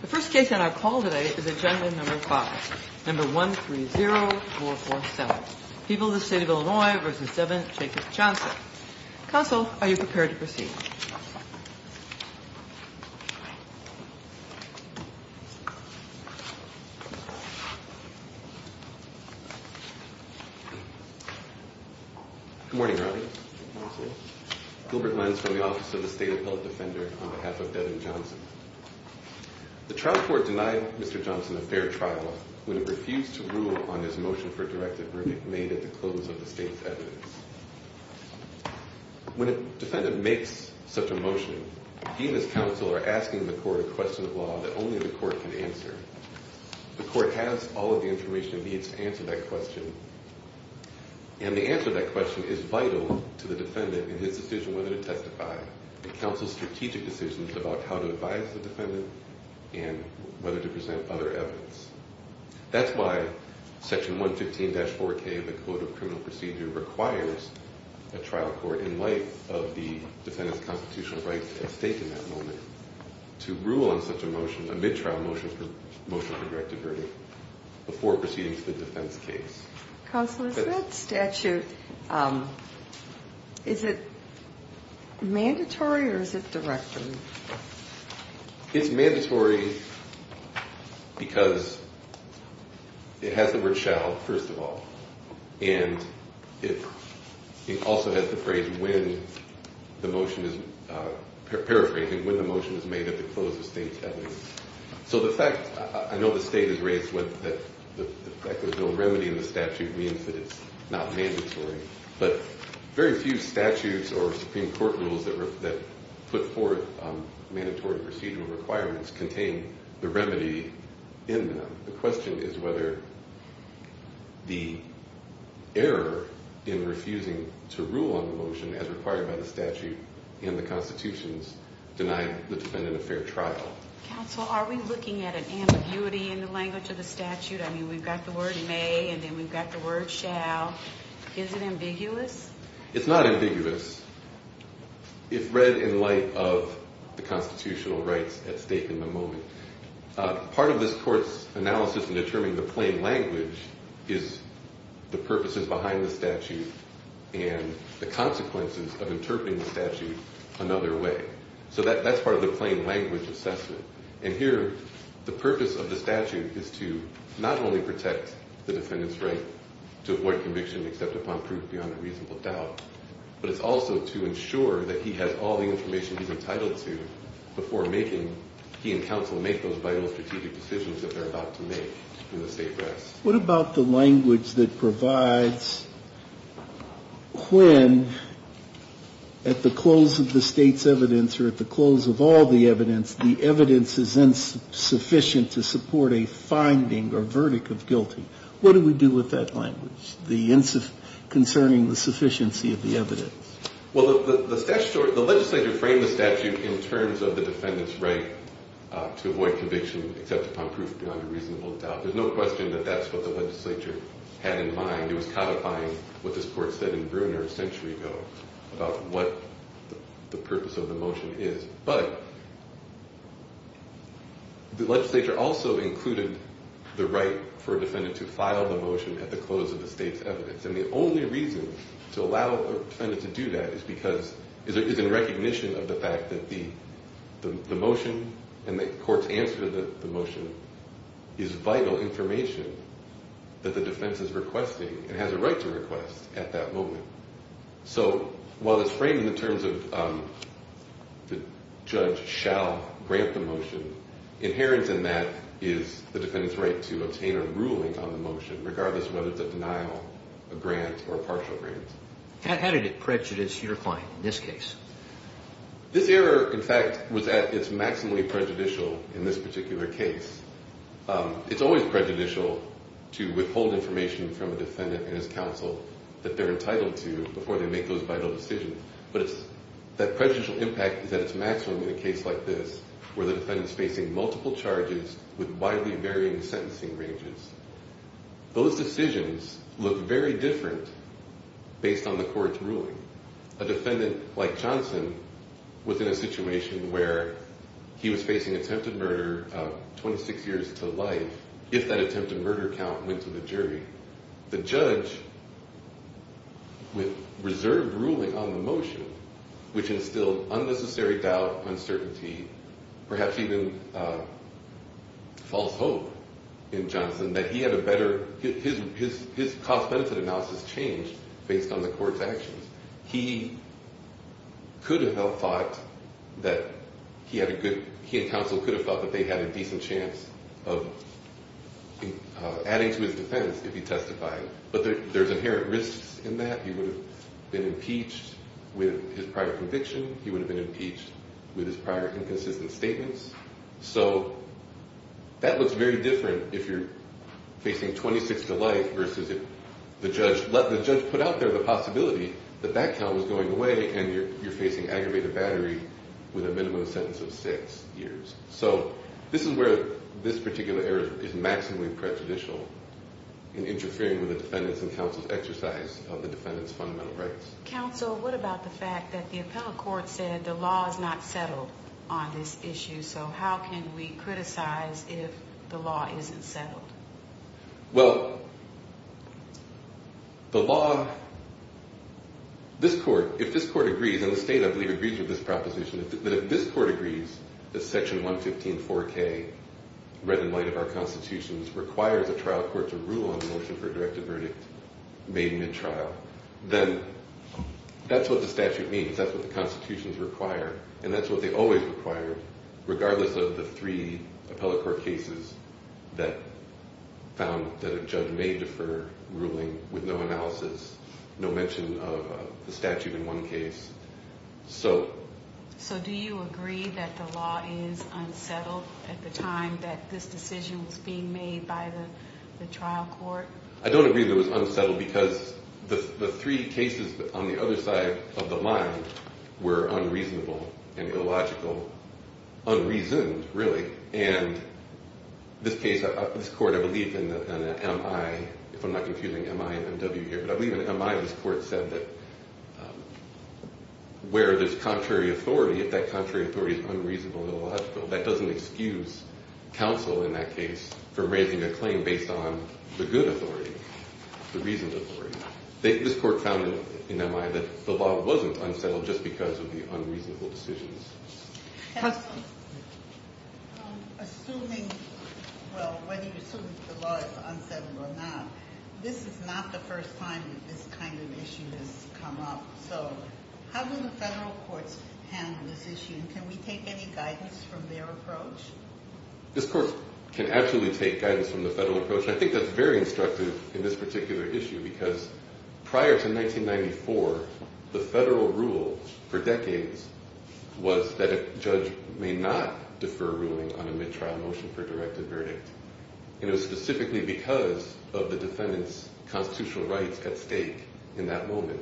The first case on our call today is agenda number 5, number 130447. People of the State of Illinois v. Devin Jacobs Johnson. Counsel, are you prepared to proceed? Good morning, Robin. Gilbert Lenz from the Office of the State Appellate Defender on behalf of Devin Johnson. The trial court denied Mr. Johnson a fair trial when it refused to rule on his motion for a directive verdict made at the close of the State's evidence. When a defendant makes such a motion, he and his counsel are asking the court a question of law that only the court can answer. The court has all of the information it needs to answer that question, and the answer to that question is vital to the defendant and his decision whether to testify. The counsel's strategic decision is about how to advise the defendant and whether to present other evidence. That's why Section 115-4K of the Code of Criminal Procedure requires a trial court, in light of the defendant's constitutional right at stake in that moment, to rule on such a motion, a mid-trial motion for a directive verdict, before proceeding to the defense case. Counsel, is that statute, is it mandatory or is it directed? It's mandatory because it has the word shall, first of all, and it also has the phrase when the motion is, paraphrasing, when the motion is made at the close of the State's evidence. So the fact, I know the State has raised the fact that there's no remedy in the statute means that it's not mandatory, but very few statutes or Supreme Court rules that put forth mandatory procedural requirements contain the remedy in them. The question is whether the error in refusing to rule on the motion as required by the statute and the Constitution's denying the defendant a fair trial. Counsel, are we looking at an ambiguity in the language of the statute? I mean, we've got the word may and then we've got the word shall. Is it ambiguous? It's not ambiguous if read in light of the constitutional rights at stake in the moment. Part of this Court's analysis in determining the plain language is the purposes behind the statute and the consequences of interpreting the statute another way. So that's part of the plain language assessment. And here, the purpose of the statute is to not only protect the defendant's right to avoid conviction except upon proof beyond a reasonable doubt, but it's also to ensure that he has all the information he's entitled to before he and counsel make those vital strategic decisions that they're about to make in the State press. What about the language that provides when, at the close of the State's evidence or at the close of all the evidence, the evidence is insufficient to support a finding or verdict of guilty? What do we do with that language concerning the sufficiency of the evidence? Well, the legislature framed the statute in terms of the defendant's right to avoid conviction except upon proof beyond a reasonable doubt. There's no question that that's what the legislature had in mind. It was codifying what this Court said in Bruner a century ago about what the purpose of the motion is. But the legislature also included the right for a defendant to file the motion at the close of the State's evidence. And the only reason to allow a defendant to do that is in recognition of the fact that the motion and the Court's answer to the motion is vital information that the defense is requesting and has a right to request at that moment. So while it's framed in terms of the judge shall grant the motion, inherent in that is the defendant's right to obtain a ruling on the motion regardless of whether it's a denial, a grant, or a partial grant. How did it prejudice your client in this case? This error, in fact, was at its maximally prejudicial in this particular case. It's always prejudicial to withhold information from a defendant and his counsel that they're entitled to before they make those vital decisions. But that prejudicial impact is at its maximum in a case like this where the defendant's facing multiple charges with widely varying sentencing ranges. Those decisions look very different based on the Court's ruling. A defendant like Johnson was in a situation where he was facing attempted murder of 26 years to life if that attempted murder count went to the jury. The judge with reserved ruling on the motion, which instilled unnecessary doubt, uncertainty, perhaps even false hope in Johnson that he had a better – his cost-benefit analysis changed based on the Court's actions. He could have thought that he had a good – he and counsel could have thought that they had a decent chance of adding to his defense if he testified. But there's inherent risks in that. He would have been impeached with his prior conviction. He would have been impeached with his prior inconsistent statements. So that looks very different if you're facing 26 to life versus if the judge put out there the possibility that that count was going away and you're facing aggravated battery with a minimum sentence of six years. So this is where this particular error is maximally prejudicial in interfering with the defendant's and counsel's exercise of the defendant's fundamental rights. Counsel, what about the fact that the appellate court said the law is not settled on this issue, so how can we criticize if the law isn't settled? Well, the law – this Court – if this Court agrees, and the State, I believe, agrees with this proposition, that if this Court agrees that Section 115-4K, read in light of our Constitution, requires a trial court to rule on the motion for a directed verdict made mid-trial, then that's what the statute means. That's what the Constitutions require, and that's what they always required, regardless of the three appellate court cases that found that a judge may defer ruling with no analysis, no mention of the statute in one case. So do you agree that the law is unsettled at the time that this decision was being made by the trial court? I don't agree that it was unsettled because the three cases on the other side of the line were unreasonable and illogical – unreasoned, really. And this case – this Court, I believe, in MI – if I'm not confusing MI and MW here – but I believe in MI, this Court said that where there's contrary authority, if that contrary authority is unreasonable and illogical, that doesn't excuse counsel in that case for raising a claim based on the good authority, the reasoned authority. This Court found in MI that the law wasn't unsettled just because of the unreasonable decisions. Counsel, assuming – well, whether you assume that the law is unsettled or not, this is not the first time that this kind of issue has come up. So how do the federal courts handle this issue, and can we take any guidance from their approach? This Court can absolutely take guidance from the federal approach, and I think that's very instructive in this particular issue, because prior to 1994, the federal rule for decades was that a judge may not defer ruling on a mid-trial motion for a directed verdict. And it was specifically because of the defendant's constitutional rights at stake in that moment.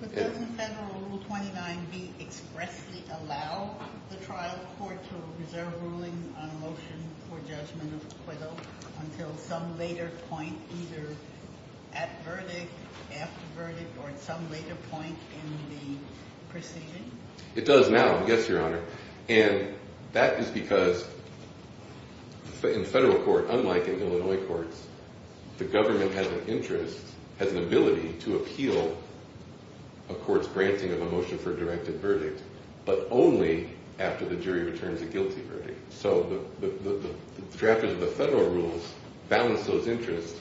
But doesn't federal Rule 29b expressly allow the trial court to reserve ruling on a motion for judgment of acquittal until some later point, either at verdict, after verdict, or at some later point in the proceeding? It does now, yes, Your Honor. And that is because in federal court, unlike in Illinois courts, the government has an interest, has an ability, to appeal a court's granting of a motion for a directed verdict, but only after the jury returns a guilty verdict. So the drafters of the federal rules balanced those interests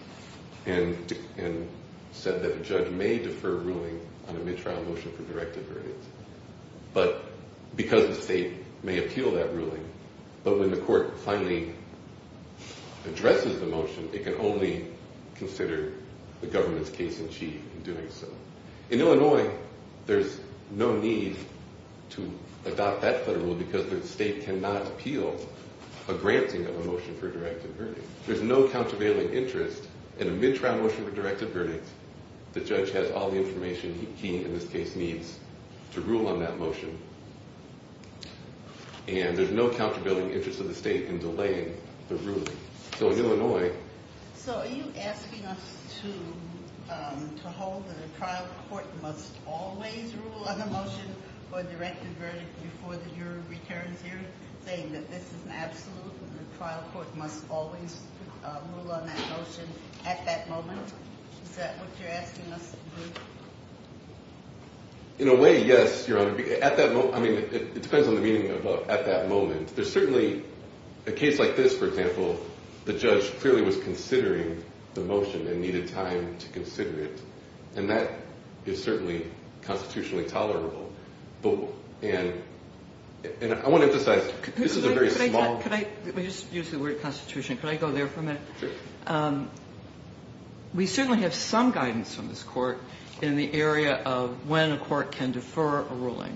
and said that a judge may defer ruling on a mid-trial motion for directed verdicts. But because the state may appeal that ruling, but when the court finally addresses the motion, it can only consider the government's case in chief in doing so. In Illinois, there's no need to adopt that federal rule because the state cannot appeal a granting of a motion for a directed verdict. There's no countervailing interest in a mid-trial motion for directed verdicts. The judge has all the information he, in this case, needs to rule on that motion. And there's no countervailing interest of the state in delaying the ruling. So in Illinois- So are you asking us to hold that a trial court must always rule on a motion for a directed verdict before the jury returns here, saying that this is an absolute and the trial court must always rule on that motion at that moment? Is that what you're asking us to do? In a way, yes, Your Honor. I mean, it depends on the meaning of at that moment. There's certainly a case like this, for example, the judge clearly was considering the motion and needed time to consider it. And that is certainly constitutionally tolerable. And I want to emphasize, this is a very small- Could I just use the word constitution? Could I go there for a minute? Sure. We certainly have some guidance from this Court in the area of when a court can defer a ruling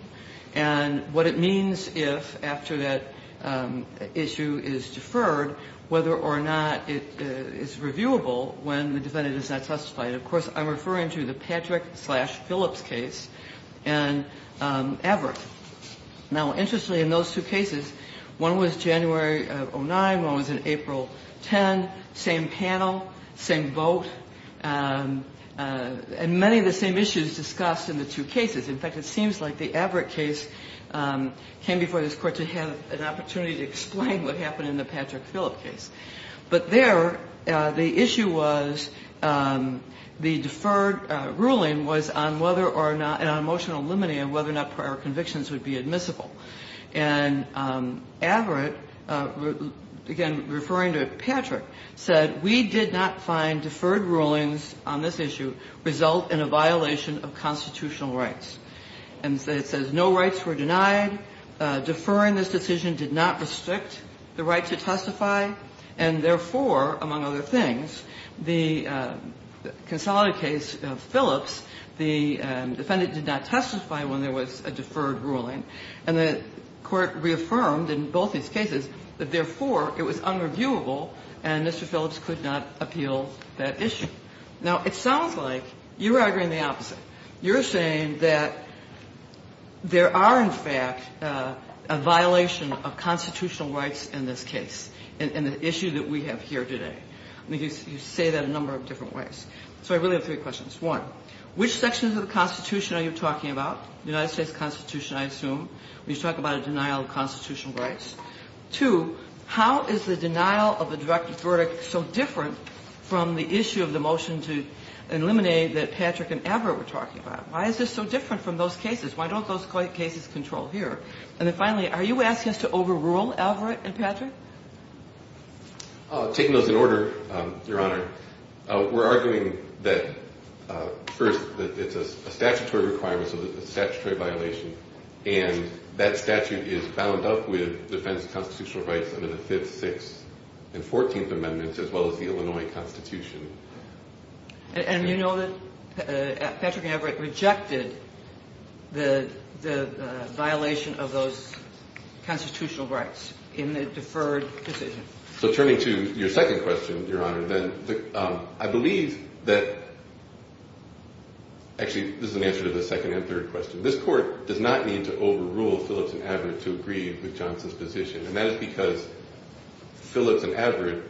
and what it means if, after that issue is deferred, whether or not it is reviewable when the defendant is not testified. Of course, I'm referring to the Patrick-Phillips case and Averitt. Now, interestingly, in those two cases, one was January of 2009, one was in April 10, same panel, same vote. And many of the same issues discussed in the two cases. In fact, it seems like the Averitt case came before this Court to have an opportunity to explain what happened in the Patrick-Phillips case. But there, the issue was the deferred ruling was on whether or not an emotional limine of whether or not prior convictions would be admissible. And Averitt, again, referring to Patrick, said, we did not find deferred rulings on this issue result in a violation of constitutional rights. And it says no rights were denied, deferring this decision did not restrict the right to testify, and therefore, among other things, the consolidated case of Phillips, the defendant did not testify when there was a deferred ruling. And the Court reaffirmed in both these cases that, therefore, it was unreviewable and Mr. Phillips could not appeal that issue. Now, it sounds like you're arguing the opposite. You're saying that there are, in fact, a violation of constitutional rights in this case, in the issue that we have here today. I mean, you say that a number of different ways. So I really have three questions. One, which sections of the Constitution are you talking about? The United States Constitution, I assume, where you talk about a denial of constitutional rights. Two, how is the denial of a direct verdict so different from the issue of the motion to eliminate that Patrick and Averitt were talking about? Why is this so different from those cases? Why don't those cases control here? And then finally, are you asking us to overrule Averitt and Patrick? Taking those in order, Your Honor, we're arguing that, first, it's a statutory requirement, so it's a statutory violation. And that statute is bound up with defense of constitutional rights under the Fifth, Sixth, and Fourteenth Amendments, as well as the Illinois Constitution. And you know that Patrick and Averitt rejected the violation of those constitutional rights in the deferred decision. So turning to your second question, Your Honor, then, I believe that actually, this is an answer to the second and third question. This Court does not need to overrule Phillips and Averitt to agree with Johnson's position. And that is because Phillips and Averitt,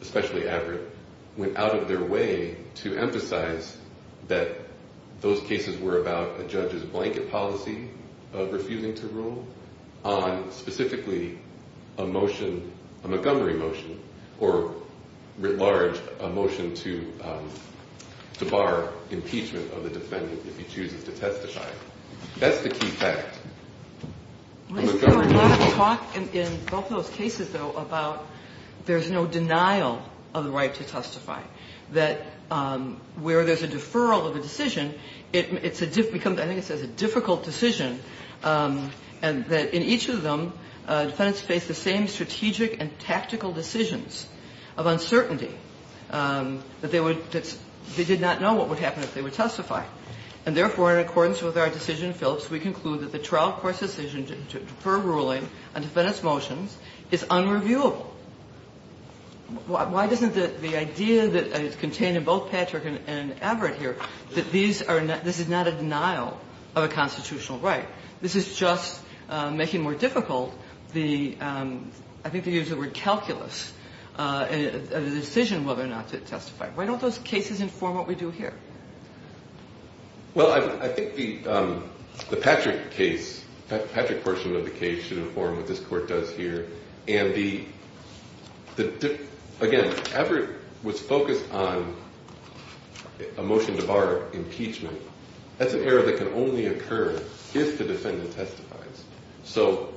especially Averitt, went out of their way to emphasize that those cases were about a judge's blanket policy of refusing to rule on specifically a motion, a Montgomery motion, or writ large, a motion to bar impeachment of the defendant if he chooses to testify. That's the key fact. There's been a lot of talk in both those cases, though, about there's no denial of the right to testify. That where there's a deferral of a decision, it becomes, I think it says, a difficult decision. And that in each of them, defendants face the same strategic and tactical decisions of uncertainty that they would – that they did not know what would happen if they would testify. And therefore, in accordance with our decision in Phillips, we conclude that the trial court's decision to defer ruling on defendant's motions is unreviewable. Why doesn't the idea that is contained in both Patrick and Averitt here, that these are – this is not a denial of a constitutional right? This is just making more difficult the – I think they use the word calculus – a decision whether or not to testify. Why don't those cases inform what we do here? Well, I think the Patrick case – the Patrick portion of the case should inform what this court does here. And the – again, Averitt was focused on a motion to bar impeachment. That's an error that can only occur if the defendant testifies. So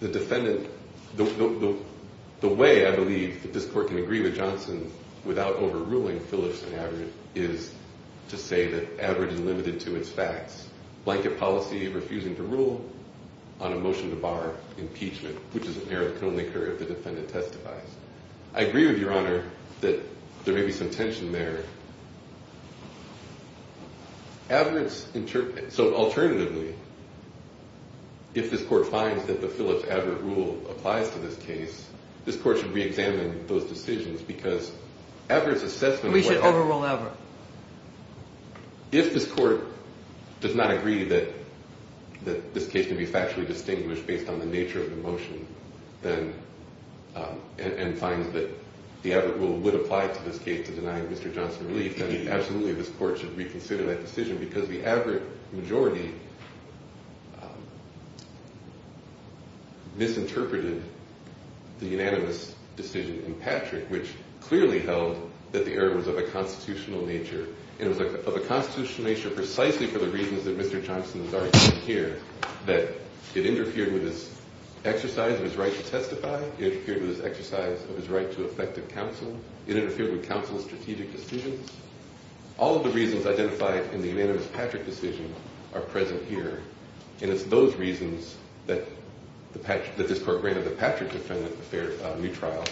the defendant – the way I believe that this court can agree with Johnson without overruling Phillips and Averitt is to say that Averitt is limited to its facts. Blanket policy, refusing to rule on a motion to bar impeachment, which is an error that can only occur if the defendant testifies. I agree with Your Honor that there may be some tension there. Averitt's – so alternatively, if this court finds that the Phillips-Averitt rule applies to this case, this court should reexamine those decisions because Averitt's assessment – We should overrule Averitt. If this court does not agree that this case can be factually distinguished based on the nature of the motion, then – and finds that the Averitt rule would apply to this case to deny Mr. Johnson relief, then absolutely this court should reconsider that decision because the Averitt majority misinterpreted the unanimous decision in Patrick, which clearly held that the error was of a constitutional nature, and it was of a constitutional nature precisely for the reasons that Mr. Johnson has argued here, that it interfered with his exercise of his right to testify, it interfered with his exercise of his right to effective counsel, it interfered with counsel's strategic decisions. All of the reasons identified in the unanimous Patrick decision are present here, and it's those reasons that this court granted the Patrick defendant a new trial,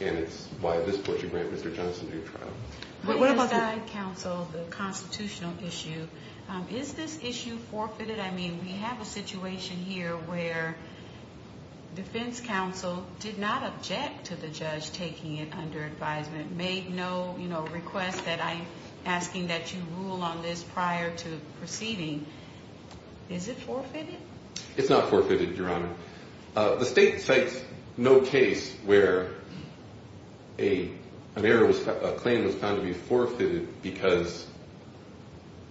and it's why this court should grant Mr. Johnson a new trial. My inside counsel, the constitutional issue, is this issue forfeited? I mean, we have a situation here where defense counsel did not object to the judge taking it under advisement, made no request that I'm asking that you rule on this prior to proceeding. Is it forfeited? It's not forfeited, Your Honor. The state cites no case where a claim was found to be forfeited because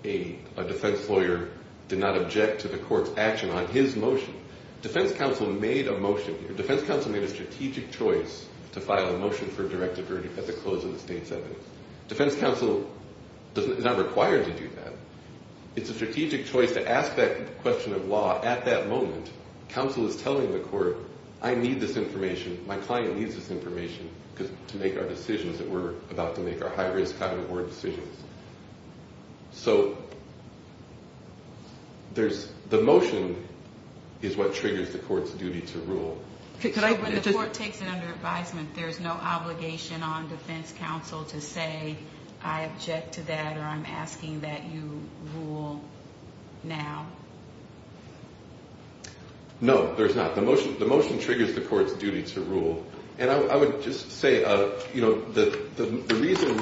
a defense lawyer did not object to the court's action on his motion. Defense counsel made a motion here. Defense counsel made a strategic choice to file a motion for directive verdict at the close of the state's evidence. Defense counsel is not required to do that. It's a strategic choice to ask that question of law at that moment. Counsel is telling the court, I need this information, my client needs this information to make our decisions that we're about to make our high-risk, high-reward decisions. So the motion is what triggers the court's duty to rule. When the court takes it under advisement, there's no obligation on defense counsel to say, I object to that or I'm asking that you rule now. No, there's not. The motion triggers the court's duty to rule. And I would just say, you know, the reason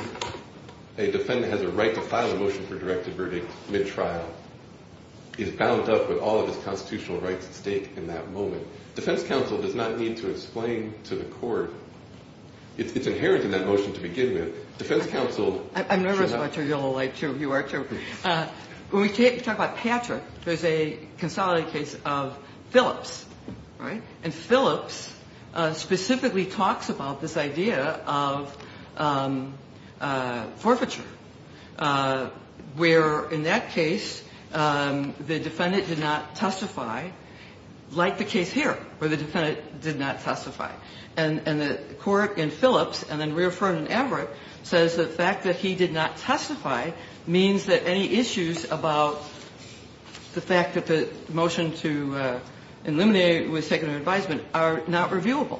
a defendant has a right to file a motion for directive verdict mid-trial is bound up with all of his constitutional rights at stake in that moment. Defense counsel does not need to explain to the court. It's inherent in that motion to begin with. Defense counsel should not. I'm nervous about your yellow light, too. You are, too. When we talk about Patrick, there's a consolidated case of Phillips, right? And Phillips specifically talks about this idea of forfeiture, where in that case the defendant did not testify, like the case here, where the defendant did not testify. And the court in Phillips and then reaffirmed in Averitt says the fact that he did not testify means that any issues about the fact that the motion to eliminate was taken under advisement are not reviewable.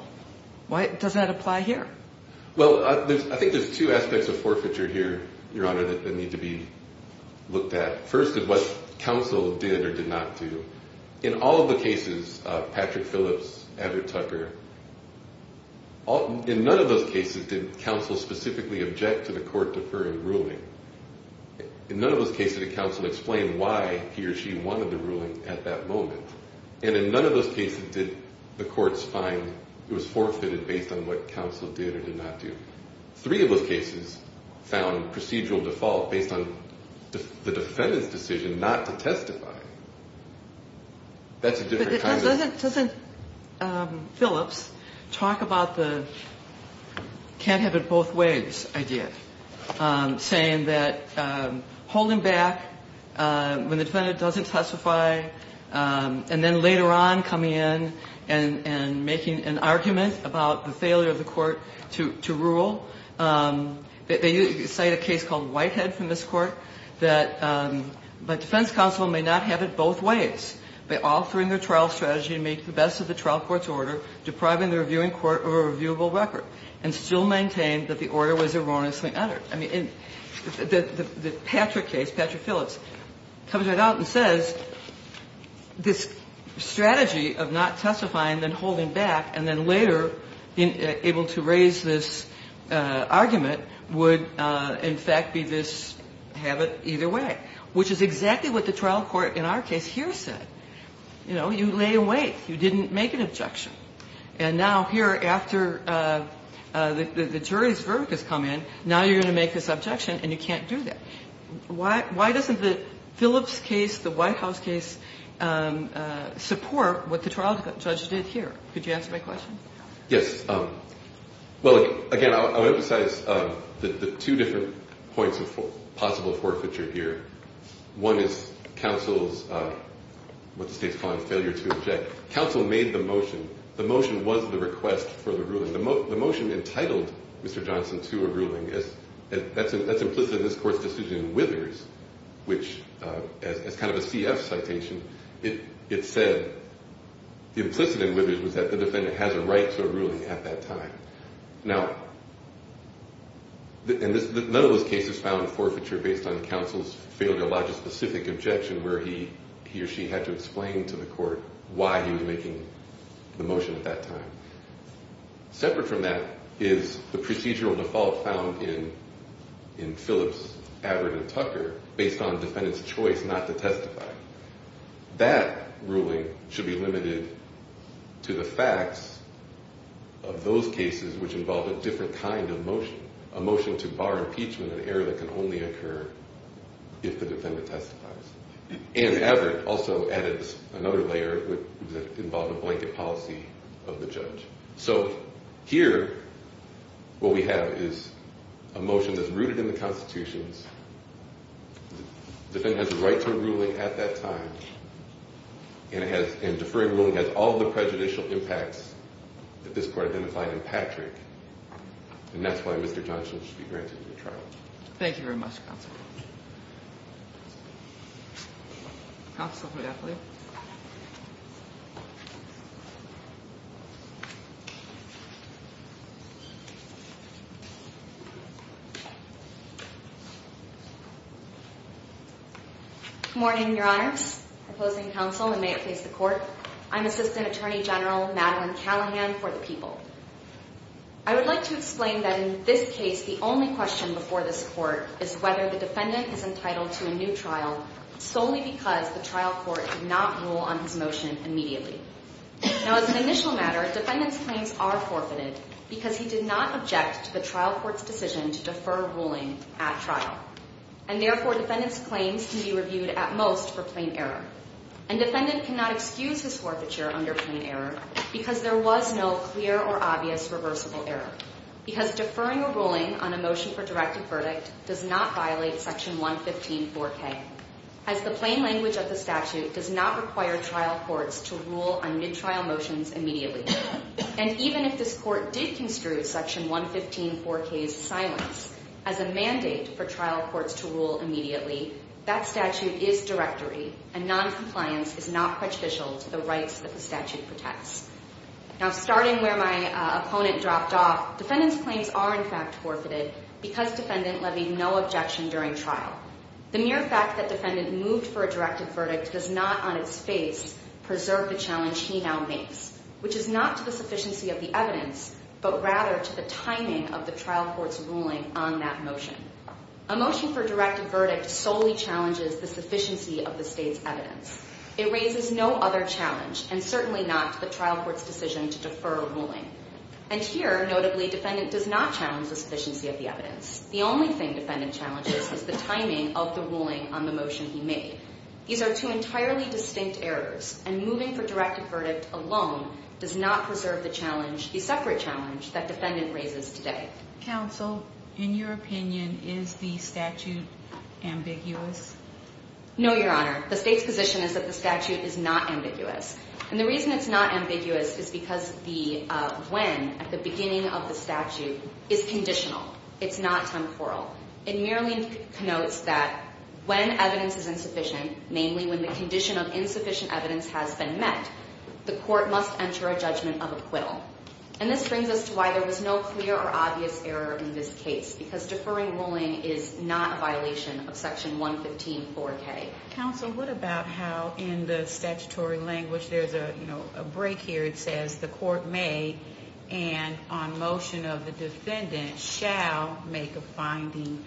Why does that apply here? Well, I think there's two aspects of forfeiture here, Your Honor, that need to be looked at. First is what counsel did or did not do. In all of the cases of Patrick Phillips, Averitt Tucker, in none of those cases did counsel specifically object to the court deferring ruling. In none of those cases did counsel explain why he or she wanted the ruling at that moment. And in none of those cases did the courts find it was forfeited based on what counsel did or did not do. Three of those cases found procedural default based on the defendant's decision not to testify. That's a different kind of- But doesn't Phillips talk about the can't have it both ways idea, saying that holding back when the defendant doesn't testify and then later on coming in and making an argument about the failure of the court to rule. They cite a case called Whitehead from this Court that defense counsel may not have it both ways by altering their trial strategy to make the best of the trial court's order, depriving the reviewing court of a reviewable record, and still maintain that the order was erroneously uttered. I mean, the Patrick case, Patrick Phillips, comes right out and says this strategy of not testifying, then holding back, and then later able to raise this argument would, in fact, be this habit either way, which is exactly what the trial court in our case here said. You know, you lay awake. You didn't make an objection. And now here after the jury's verdict has come in, now you're going to make this objection and you can't do that. Why doesn't the Phillips case, the Whitehouse case support what the trial judge did here? Could you answer my question? Yes. Well, again, I'll emphasize the two different points of possible forfeiture here. One is counsel's, what the State's calling failure to object. Counsel made the motion. The motion was the request for the ruling. The motion entitled Mr. Johnson to a ruling. That's implicit in this court's decision in Withers, which as kind of a CF citation, it said implicit in Withers was that the defendant has a right to a ruling at that time. Now, none of those cases found forfeiture based on counsel's failure to lodge a specific objection where he or she had to explain to the court why he was making the motion at that time. Separate from that is the procedural default found in Phillips, Avert, and Tucker based on defendant's choice not to testify. That ruling should be limited to the facts of those cases which involve a different kind of motion, a motion to bar impeachment, an error that can only occur if the defendant testifies. And Avert also added another layer that involved a blanket policy of the judge. So here what we have is a motion that's rooted in the Constitution. The defendant has a right to a ruling at that time. And deferring ruling has all the prejudicial impacts that this court identified in Patrick. And that's why Mr. Johnson should be granted a trial. Thank you very much, counsel. Counsel, if we have time. Good morning, Your Honors. Opposing counsel, and may it please the court. I'm Assistant Attorney General Madeline Callahan for the people. I would like to explain that in this case the only question before this court is whether the defendant is entitled to a new trial solely because the trial court did not rule on his motion immediately. Now, as an initial matter, defendant's claims are forfeited because he did not object to the trial court's decision to defer ruling at trial. And therefore, defendant's claims can be reviewed at most for plain error. And defendant cannot excuse his forfeiture under plain error because there was no clear or obvious reversible error. Because deferring a ruling on a motion for directed verdict does not violate Section 1154K. As the plain language of the statute does not require trial courts to rule on mid-trial motions immediately. And even if this court did construe Section 1154K's silence as a mandate for trial courts to rule immediately, that statute is directory and noncompliance is not prejudicial to the rights that the statute protects. Now, starting where my opponent dropped off, defendant's claims are in fact forfeited because defendant levied no objection during trial. The mere fact that defendant moved for a directed verdict does not on its face preserve the challenge he now makes. Which is not to the sufficiency of the evidence, but rather to the timing of the trial court's ruling on that motion. A motion for directed verdict solely challenges the sufficiency of the state's evidence. It raises no other challenge, and certainly not the trial court's decision to defer a ruling. And here, notably, defendant does not challenge the sufficiency of the evidence. The only thing defendant challenges is the timing of the ruling on the motion he made. These are two entirely distinct errors, and moving for directed verdict alone does not preserve the challenge, the separate challenge that defendant raises today. Counsel, in your opinion, is the statute ambiguous? No, Your Honor. The state's position is that the statute is not ambiguous. And the reason it's not ambiguous is because the when at the beginning of the statute is conditional. It's not temporal. It merely connotes that when evidence is insufficient, namely when the condition of insufficient evidence has been met, the court must enter a judgment of acquittal. And this brings us to why there was no clear or obvious error in this case, because deferring ruling is not a violation of Section 115-4K. Counsel, what about how in the statutory language there's a break here. It says the court may and on motion of the defendant shall make a finding.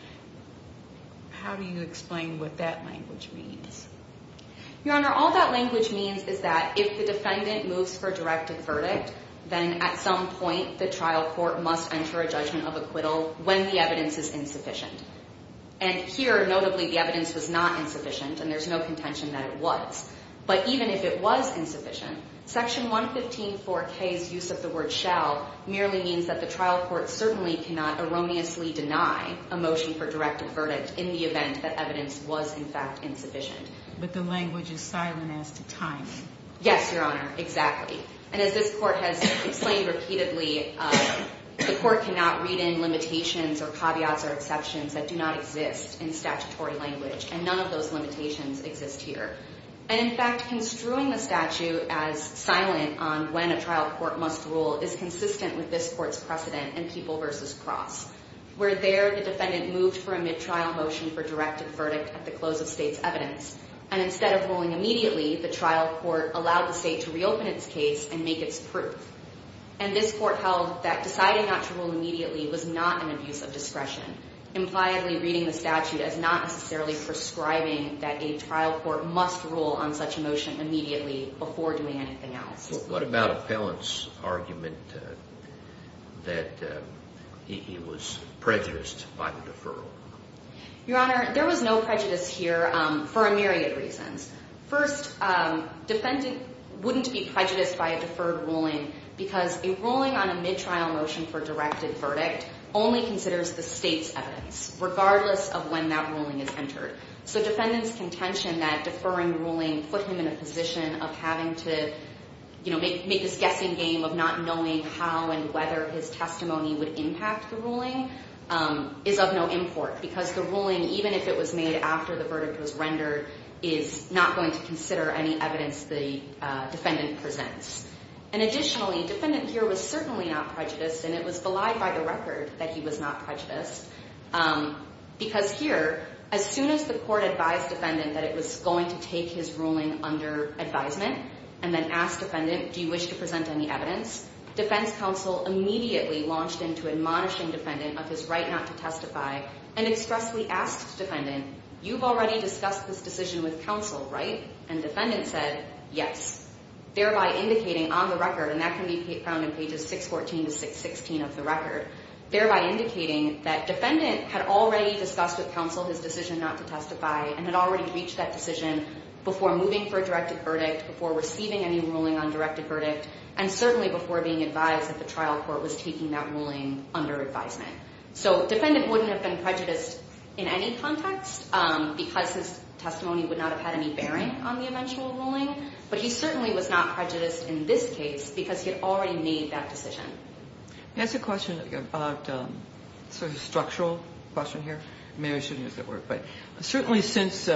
How do you explain what that language means? Your Honor, all that language means is that if the defendant moves for directed verdict, then at some point the trial court must enter a judgment of acquittal when the evidence is insufficient. And here, notably, the evidence was not insufficient, and there's no contention that it was. But even if it was insufficient, Section 115-4K's use of the word shall merely means that the trial court certainly cannot erroneously deny a motion for directed verdict in the event that evidence was, in fact, insufficient. But the language is silent as to time. Yes, Your Honor, exactly. And as this court has explained repeatedly, the court cannot read in limitations or caveats or exceptions that do not exist in statutory language, and none of those limitations exist here. And, in fact, construing the statute as silent on when a trial court must rule is consistent with this court's precedent in People v. Cross, where there the defendant moved for a mid-trial motion for directed verdict at the close of state's evidence. And instead of ruling immediately, the trial court allowed the state to reopen its case and make its proof. And this court held that deciding not to rule immediately was not an abuse of discretion, impliedly reading the statute as not necessarily prescribing that a trial court must rule on such a motion immediately before doing anything else. What about Appellant's argument that he was prejudiced by the deferral? Your Honor, there was no prejudice here for a myriad of reasons. First, defendant wouldn't be prejudiced by a deferred ruling because a ruling on a mid-trial motion for directed verdict only considers the state's evidence, regardless of when that ruling is entered. So defendant's contention that deferring ruling put him in a position of having to make this guessing game of not knowing how and whether his testimony would impact the ruling is of no import because the ruling, even if it was made after the verdict was rendered, is not going to consider any evidence the defendant presents. And additionally, defendant here was certainly not prejudiced, and it was belied by the record that he was not prejudiced because here, as soon as the court advised defendant that it was going to take his ruling under advisement and then asked defendant, do you wish to present any evidence, defense counsel immediately launched into admonishing defendant of his right not to testify and expressly asked defendant, you've already discussed this decision with counsel, right? And defendant said, yes, thereby indicating on the record, and that can be found in pages 614 to 616 of the record, thereby indicating that defendant had already discussed with counsel his decision not to testify and had already reached that decision before moving for a directed verdict, before receiving any ruling on directed verdict, and certainly before being advised that the trial court was taking that ruling under advisement. So defendant wouldn't have been prejudiced in any context because his testimony would not have had any bearing on the eventual ruling, but he certainly was not prejudiced in this case because he had already made that decision. Can I ask a question about sort of structural question here? Maybe I shouldn't use that word, but certainly since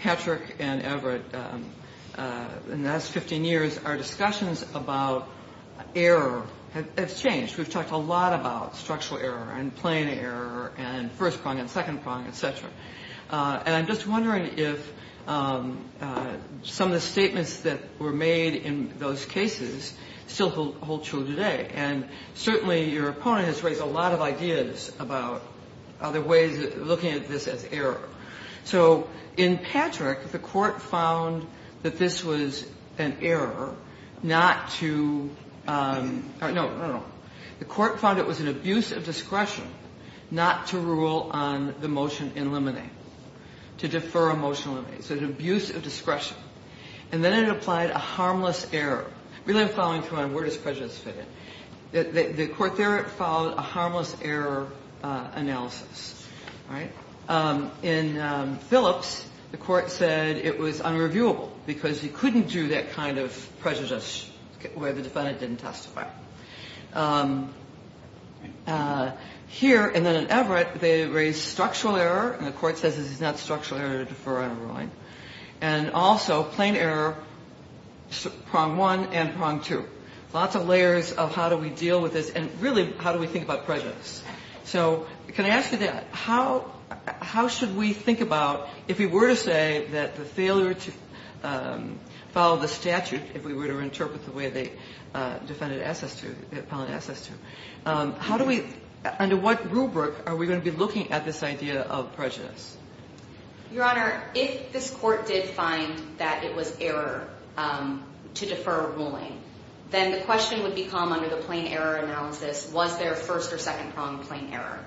Patrick and Everett in the last 15 years, our discussions about error have changed. We've talked a lot about structural error and plain error and first prong and second prong, et cetera, and I'm just wondering if some of the statements that were made in those cases still hold true today, and certainly your opponent has raised a lot of ideas about other ways of looking at this as error. So in Patrick, the Court found that this was an error not to – no, no, no. The Court found it was an abuse of discretion not to rule on the motion in limine, to defer a motion in limine. So an abuse of discretion. And then it applied a harmless error. Really, I'm following through on where does prejudice fit in. The Court there followed a harmless error analysis, right? In Phillips, the Court said it was unreviewable because you couldn't do that kind of prejudice where the defendant didn't testify. Here, and then in Everett, they raised structural error, and the Court says this is not structural error to defer on a ruling, and also plain error, prong one and prong two. Lots of layers of how do we deal with this, and really, how do we think about prejudice? So can I ask you that? How should we think about, if we were to say that the failure to follow the statute, if we were to interpret the way the defendant asked us to, the appellant asked us to, how do we – under what rubric are we going to be looking at this idea of prejudice? Your Honor, if this Court did find that it was error to defer a ruling, then the question would become, under the plain error analysis, was there first or second prong plain error?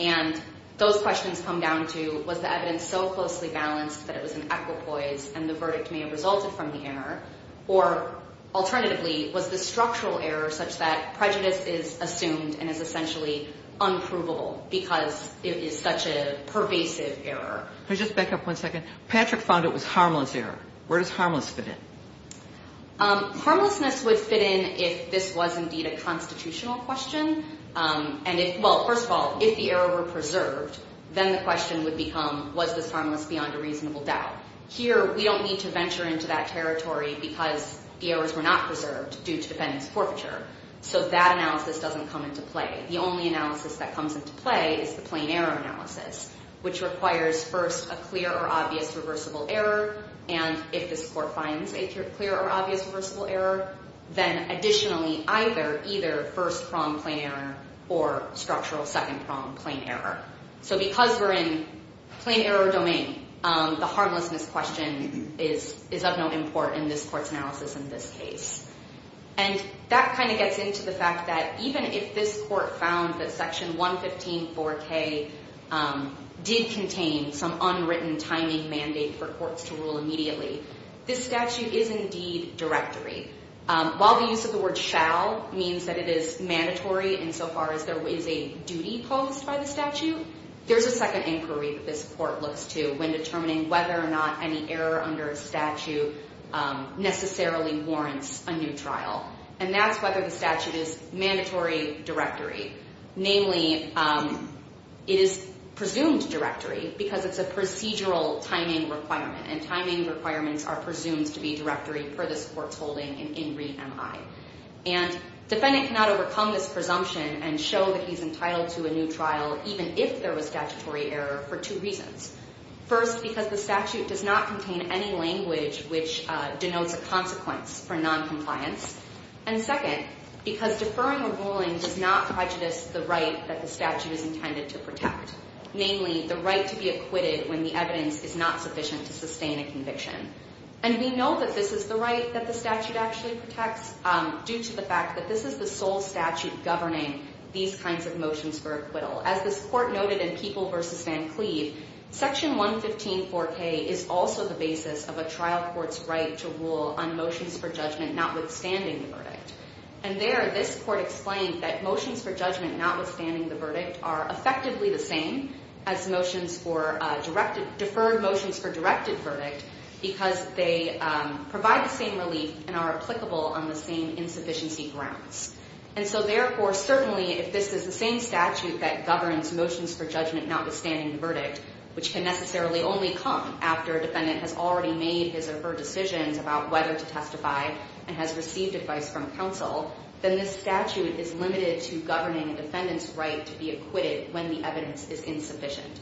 And those questions come down to was the evidence so closely balanced that it was an equipoise and the verdict may have resulted from the error? Or alternatively, was the structural error such that prejudice is assumed and is essentially unprovable because it is such a pervasive error? Can I just back up one second? Patrick found it was harmless error. Where does harmless fit in? Harmlessness would fit in if this was indeed a constitutional question. And if – well, first of all, if the error were preserved, then the question would become was this harmless beyond a reasonable doubt? Here we don't need to venture into that territory because the errors were not preserved due to defendant's forfeiture. So that analysis doesn't come into play. The only analysis that comes into play is the plain error analysis, which requires first a clear or obvious reversible error, and if this Court finds a clear or obvious reversible error, then additionally either first prong plain error or structural second prong plain error. So because we're in plain error domain, the harmlessness question is of no import in this Court's analysis in this case. And that kind of gets into the fact that even if this Court found that Section 115.4k did contain some unwritten timing mandate for courts to rule immediately, this statute is indeed directory. While the use of the word shall means that it is mandatory insofar as there is a duty posed by the statute, there's a second inquiry that this Court looks to when determining whether or not any error under a statute necessarily warrants a new trial, and that's whether the statute is mandatory directory. Namely, it is presumed directory because it's a procedural timing requirement, and timing requirements are presumed to be directory for this Court's holding in In Re. Mi. And defendant cannot overcome this presumption and show that he's entitled to a new trial even if there was statutory error for two reasons. First, because the statute does not contain any language which denotes a consequence for noncompliance. And second, because deferring a ruling does not prejudice the right that the statute is intended to protect, namely the right to be acquitted when the evidence is not sufficient to sustain a conviction. And we know that this is the right that the statute actually protects due to the fact that this is the sole statute governing these kinds of motions for acquittal. As this Court noted in People v. Van Cleve, Section 115-4K is also the basis of a trial court's right to rule on motions for judgment notwithstanding the verdict. And there, this Court explained that motions for judgment notwithstanding the verdict are effectively the same as deferred motions for directed verdict because they provide the same relief and are applicable on the same insufficiency grounds. And so therefore, certainly, if this is the same statute that governs motions for judgment notwithstanding the verdict, which can necessarily only come after a defendant has already made his or her decisions about whether to testify and has received advice from counsel, then this statute is limited to governing a defendant's right to be acquitted when the evidence is insufficient.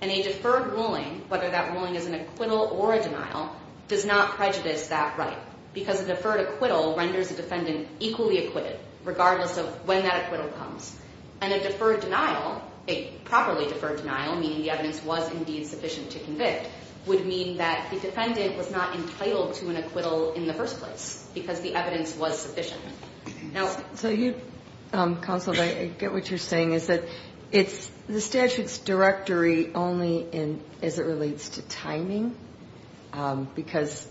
And a deferred ruling, whether that ruling is an acquittal or a denial, does not prejudice that right because a deferred acquittal renders a defendant equally acquitted regardless of when that acquittal comes. And a deferred denial, a properly deferred denial, meaning the evidence was indeed sufficient to convict, would mean that the defendant was not entitled to an acquittal in the first place because the evidence was sufficient. Now – So you, counsel, I get what you're saying is that it's – the statute's directory only in – as it relates to timing because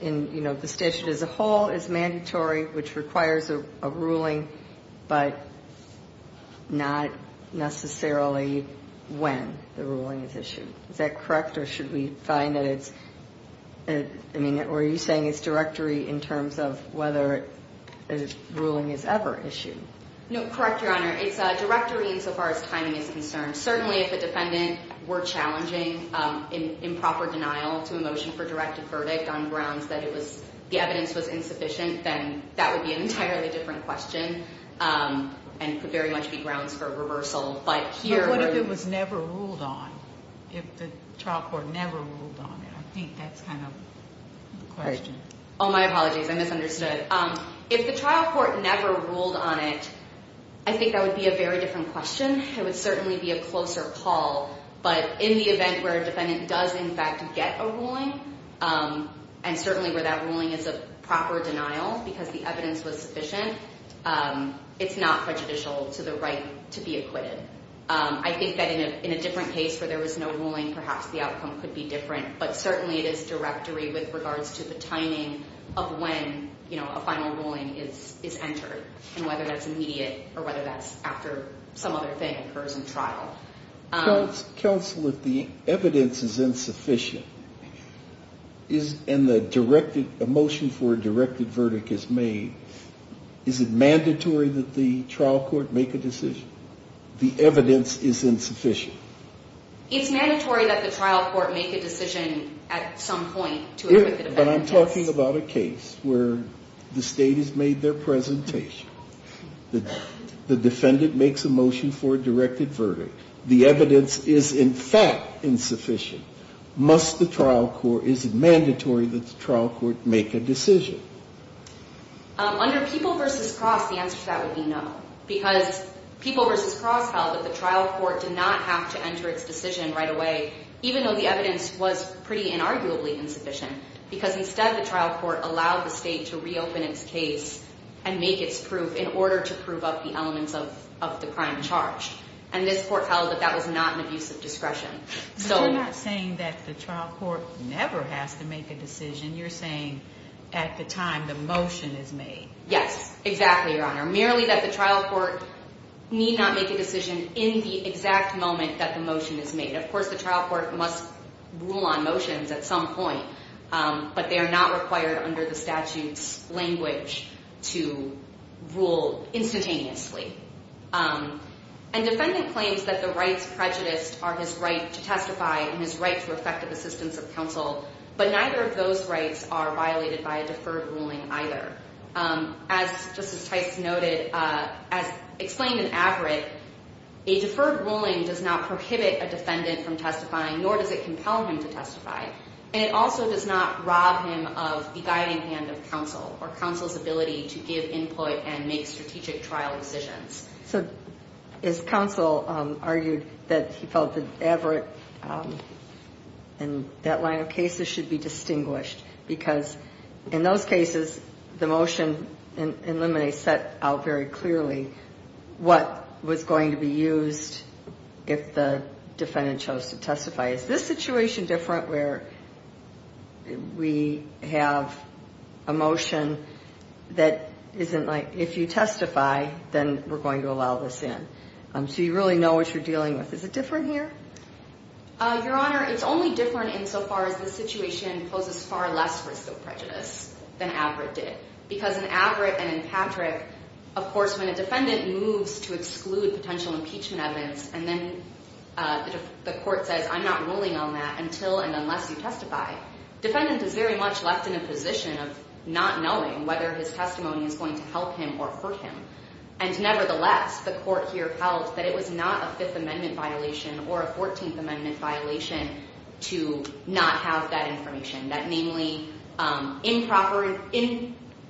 in, you know, the statute as a whole is mandatory, which requires a ruling, but not necessarily when the ruling is issued. Is that correct, or should we find that it's – I mean, are you saying it's directory in terms of whether a ruling is ever issued? No, correct, Your Honor. It's directory insofar as timing is concerned. Certainly, if a defendant were challenging improper denial to a motion for directed verdict on grounds that it was – the evidence was insufficient, then that would be an entirely different question and could very much be grounds for reversal. But here – But what if it was never ruled on, if the trial court never ruled on it? I think that's kind of the question. Oh, my apologies. I misunderstood. If the trial court never ruled on it, I think that would be a very different question. It would certainly be a closer call, but in the event where a defendant does in fact get a ruling and certainly where that ruling is a proper denial because the evidence was sufficient, it's not prejudicial to the right to be acquitted. I think that in a different case where there was no ruling, perhaps the outcome could be different, but certainly it is directory with regards to the timing of when, you know, a final ruling is entered and whether that's immediate or whether that's after some other thing occurs in trial. Counsel, if the evidence is insufficient and a motion for a directed verdict is made, is it mandatory that the trial court make a decision? The evidence is insufficient. It's mandatory that the trial court make a decision at some point to acquit the defendant. But I'm talking about a case where the State has made their presentation. The defendant makes a motion for a directed verdict. The evidence is in fact insufficient. Must the trial court, is it mandatory that the trial court make a decision? Under People v. Cross, the answer to that would be no because People v. Cross held that the trial court did not have to enter its decision right away even though the evidence was pretty inarguably insufficient because instead the trial court allowed the State to reopen its case and make its proof in order to prove up the elements of the crime charged. And this court held that that was not an abuse of discretion. So you're not saying that the trial court never has to make a decision. You're saying at the time the motion is made. Yes, exactly, Your Honor. Merely that the trial court need not make a decision in the exact moment that the motion is made. Of course, the trial court must rule on motions at some point, but they are not required under the statute's language to rule instantaneously. And defendant claims that the rights prejudiced are his right to testify and his right to effective assistance of counsel, but neither of those rights are violated by a deferred ruling either. As Justice Tice noted, as explained in Averitt, a deferred ruling does not prohibit a defendant from testifying, nor does it compel him to testify. And it also does not rob him of the guiding hand of counsel or counsel's ability to give input and make strategic trial decisions. So is counsel argued that he felt that Averitt and that line of cases should be distinguished because in those cases the motion in limine set out very clearly what was going to be used if the defendant chose to testify. Is this situation different where we have a motion that isn't like, if you testify, then we're going to allow this in? So you really know what you're dealing with. Is it different here? Your Honor, it's only different insofar as the situation poses far less risk of prejudice than Averitt did. Because in Averitt and in Patrick, of course, when a defendant moves to exclude potential impeachment evidence and then the court says, I'm not ruling on that until and unless you testify, defendant is very much left in a position of not knowing whether his testimony is going to help him or hurt him. And nevertheless, the court here held that it was not a Fifth Amendment violation or a Fourteenth Amendment violation to not have that information. That namely,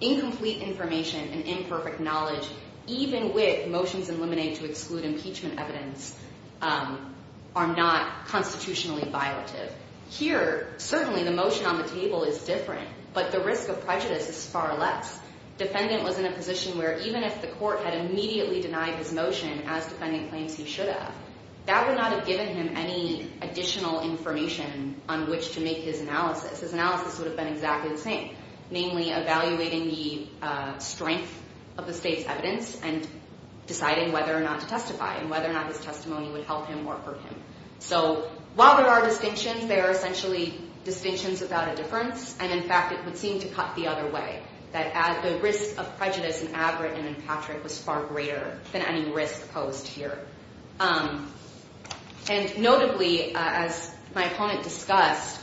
incomplete information and imperfect knowledge, even with motions in limine to exclude impeachment evidence, are not constitutionally violative. Here, certainly the motion on the table is different, but the risk of prejudice is far less. Defendant was in a position where even if the court had immediately denied his motion, as defendant claims he should have, that would not have given him any additional information on which to make his analysis. His analysis would have been exactly the same, namely evaluating the strength of the state's evidence and deciding whether or not to testify and whether or not his testimony would help him or hurt him. So while there are distinctions, they are essentially distinctions without a difference. And in fact, it would seem to cut the other way, that the risk of prejudice in Averitt and in Patrick was far greater than any risk posed here. And notably, as my opponent discussed,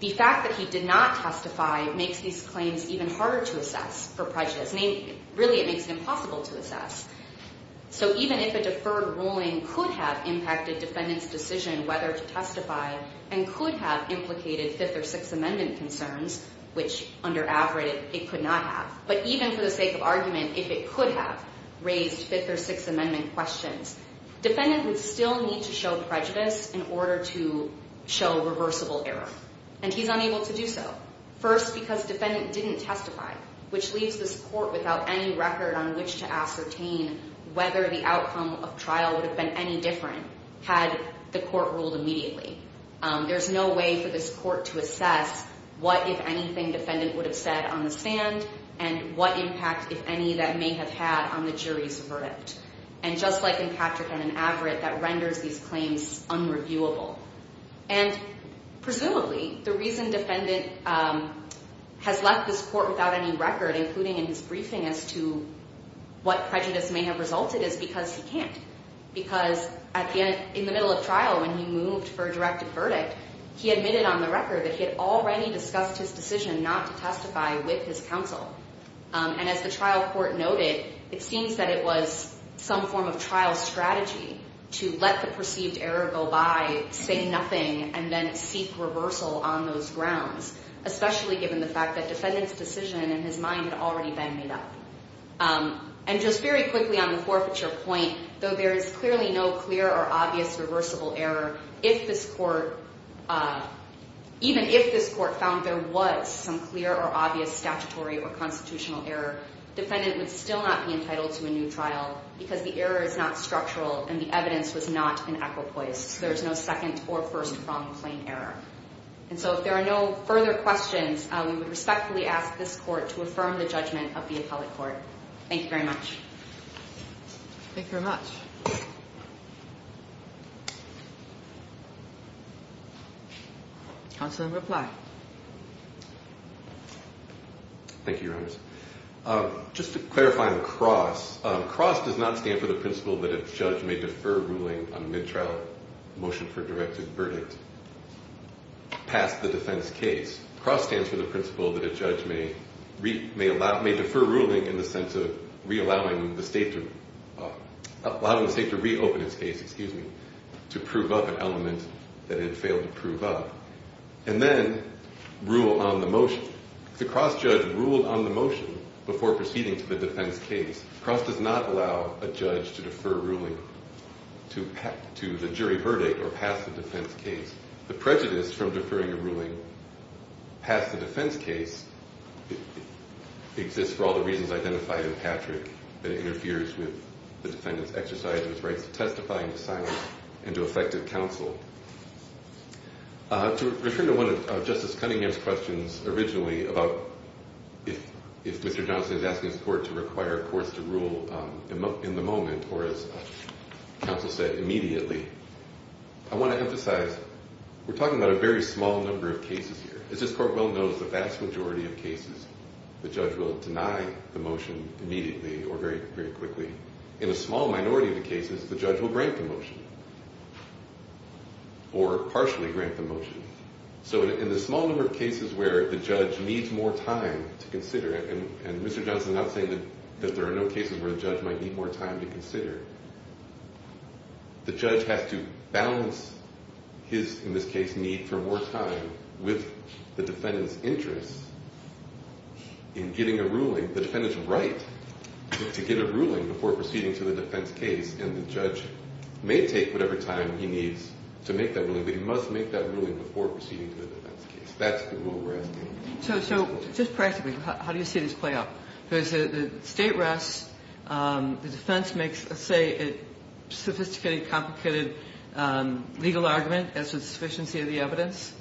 the fact that he did not testify makes these claims even harder to assess for prejudice. Really, it makes it impossible to assess. So even if a deferred ruling could have impacted defendant's decision whether to testify and could have implicated Fifth or Sixth Amendment concerns, which under Averitt it could not have, but even for the sake of argument, if it could have raised Fifth or Sixth Amendment questions, defendant would still need to show prejudice in order to show reversible error. And he's unable to do so. First, because defendant didn't testify, which leaves this court without any record on which to ascertain whether the outcome of trial would have been any different had the court ruled immediately. There's no way for this court to assess what, if anything, defendant would have said on the stand and what impact, if any, that may have had on the jury's verdict. And just like in Patrick and in Averitt, that renders these claims unreviewable. And presumably, the reason defendant has left this court without any record, including in his briefing, as to what prejudice may have resulted is because he can't. Because in the middle of trial, when he moved for a directed verdict, he admitted on the record that he had already discussed his decision not to testify with his counsel. And as the trial court noted, it seems that it was some form of trial strategy to let the perceived error go by, say nothing, and then seek reversal on those grounds, especially given the fact that defendant's decision in his mind had already been made up. And just very quickly on the forfeiture point, though there is clearly no clear or obvious reversible error, even if this court found there was some clear or obvious statutory or constitutional error, defendant would still not be entitled to a new trial because the error is not structural and the evidence was not an equipoise. There is no second or first from plain error. And so if there are no further questions, we would respectfully ask this court to affirm the judgment of the appellate court. Thank you very much. Thank you very much. Counsel in reply. Thank you, Your Honors. Just to clarify on CROSS, CROSS does not stand for the principle that a judge may defer ruling on a mid-trial motion for a directed verdict past the defense case. CROSS stands for the principle that a judge may defer ruling in the sense of allowing the state to reopen its case, excuse me, to prove up an element that it failed to prove up, and then rule on the motion. If the CROSS judge ruled on the motion before proceeding to the defense case, CROSS does not allow a judge to defer ruling to the jury verdict or pass the defense case. The prejudice from deferring a ruling past the defense case exists for all the reasons identified in Patrick that it interferes with the defendant's exercise of his rights of testifying to silence and to effective counsel. To return to one of Justice Cunningham's questions originally about if Mr. Johnson is asking his court to require courts to rule in the moment or, as counsel said, immediately, I want to emphasize we're talking about a very small number of cases here. As this court well knows, the vast majority of cases the judge will deny the motion immediately or very quickly. In a small minority of the cases, the judge will grant the motion or partially grant the motion. So in the small number of cases where the judge needs more time to consider, and Mr. Johnson is not saying that there are no cases where the judge might need more time to consider, the judge has to balance his, in this case, need for more time with the defendant's interest in getting a ruling. The defendant's right to get a ruling before proceeding to the defense case, and the judge may take whatever time he needs to make that ruling, but he must make that ruling before proceeding to the defense case. That's the rule we're asking. So just practically, how do you see this play out? The state rests, the defense makes, let's say, a sophisticated, complicated legal argument as to the sufficiency of the evidence,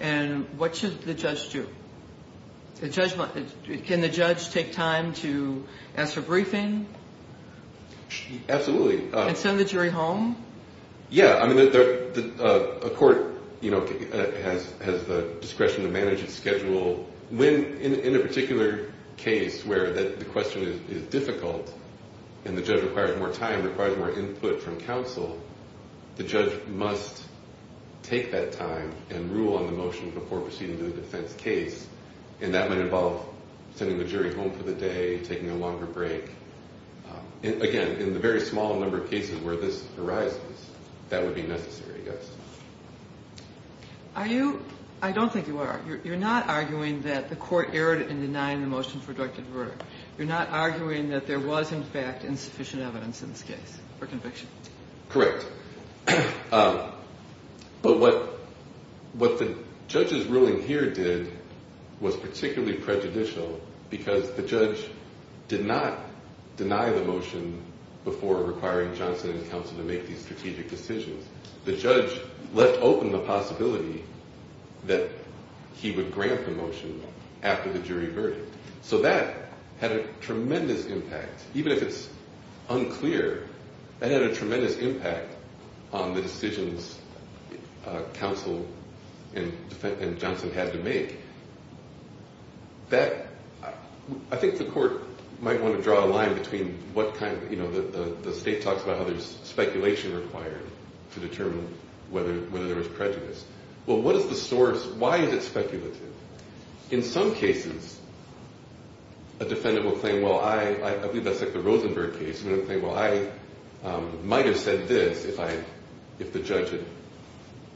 and what should the judge do? Can the judge take time to ask for briefing? Absolutely. And send the jury home? Yeah. I mean, a court has the discretion to manage its schedule. In a particular case where the question is difficult and the judge requires more time, requires more input from counsel, the judge must take that time and rule on the motion before proceeding to the defense case, and that might involve sending the jury home for the day, taking a longer break. Again, in the very small number of cases where this arises, that would be necessary, I guess. I don't think you are. You're not arguing that the court erred in denying the motion for directed murder. You're not arguing that there was, in fact, insufficient evidence in this case for conviction. Correct. But what the judge's ruling here did was particularly prejudicial, because the judge did not deny the motion before requiring Johnson and counsel to make these strategic decisions. The judge left open the possibility that he would grant the motion after the jury verdict. So that had a tremendous impact. Even if it's unclear, that had a tremendous impact on the decisions counsel and Johnson had to make. I think the court might want to draw a line between what kind of, you know, the state talks about how there's speculation required to determine whether there was prejudice. Well, what is the source? Why is it speculative? In some cases, a defendant will claim, well, I believe that's like the Rosenberg case, and will claim, well, I might have said this if the judge had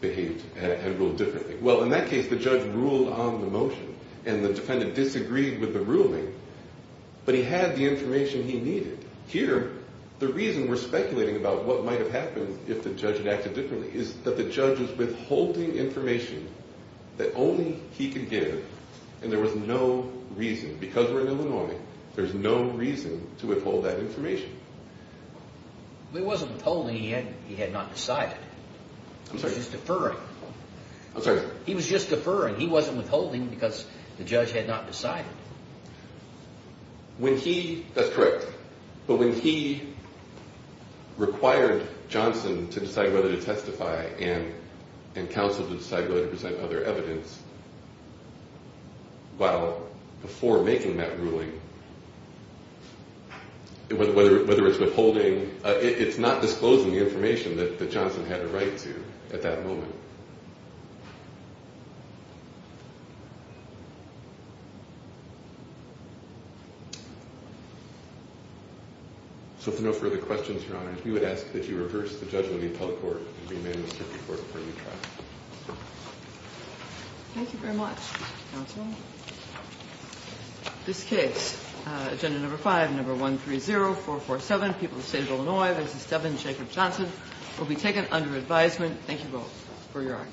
behaved, had ruled differently. Well, in that case, the judge ruled on the motion, and the defendant disagreed with the ruling, but he had the information he needed. Here, the reason we're speculating about what might have happened if the judge had acted differently is that the judge was withholding information that only he could give, and there was no reason, because we're in Illinois, there's no reason to withhold that information. He wasn't withholding. He had not decided. I'm sorry. He was just deferring. I'm sorry. He was just deferring. He wasn't withholding because the judge had not decided. That's correct, but when he required Johnson to decide whether to testify and counsel to decide whether to present other evidence, well, before making that ruling, whether it's withholding, it's not disclosing the information that Johnson had a right to at that moment. So if there are no further questions, Your Honor, we would ask that you reverse the judgment of the appellate court and remand the circuit court for retrial. Thank you very much, counsel. This case, agenda number five, number 130447, People of the State of Illinois v. Devin Jacob Johnson, will be taken under advisement. Thank you both for your honor.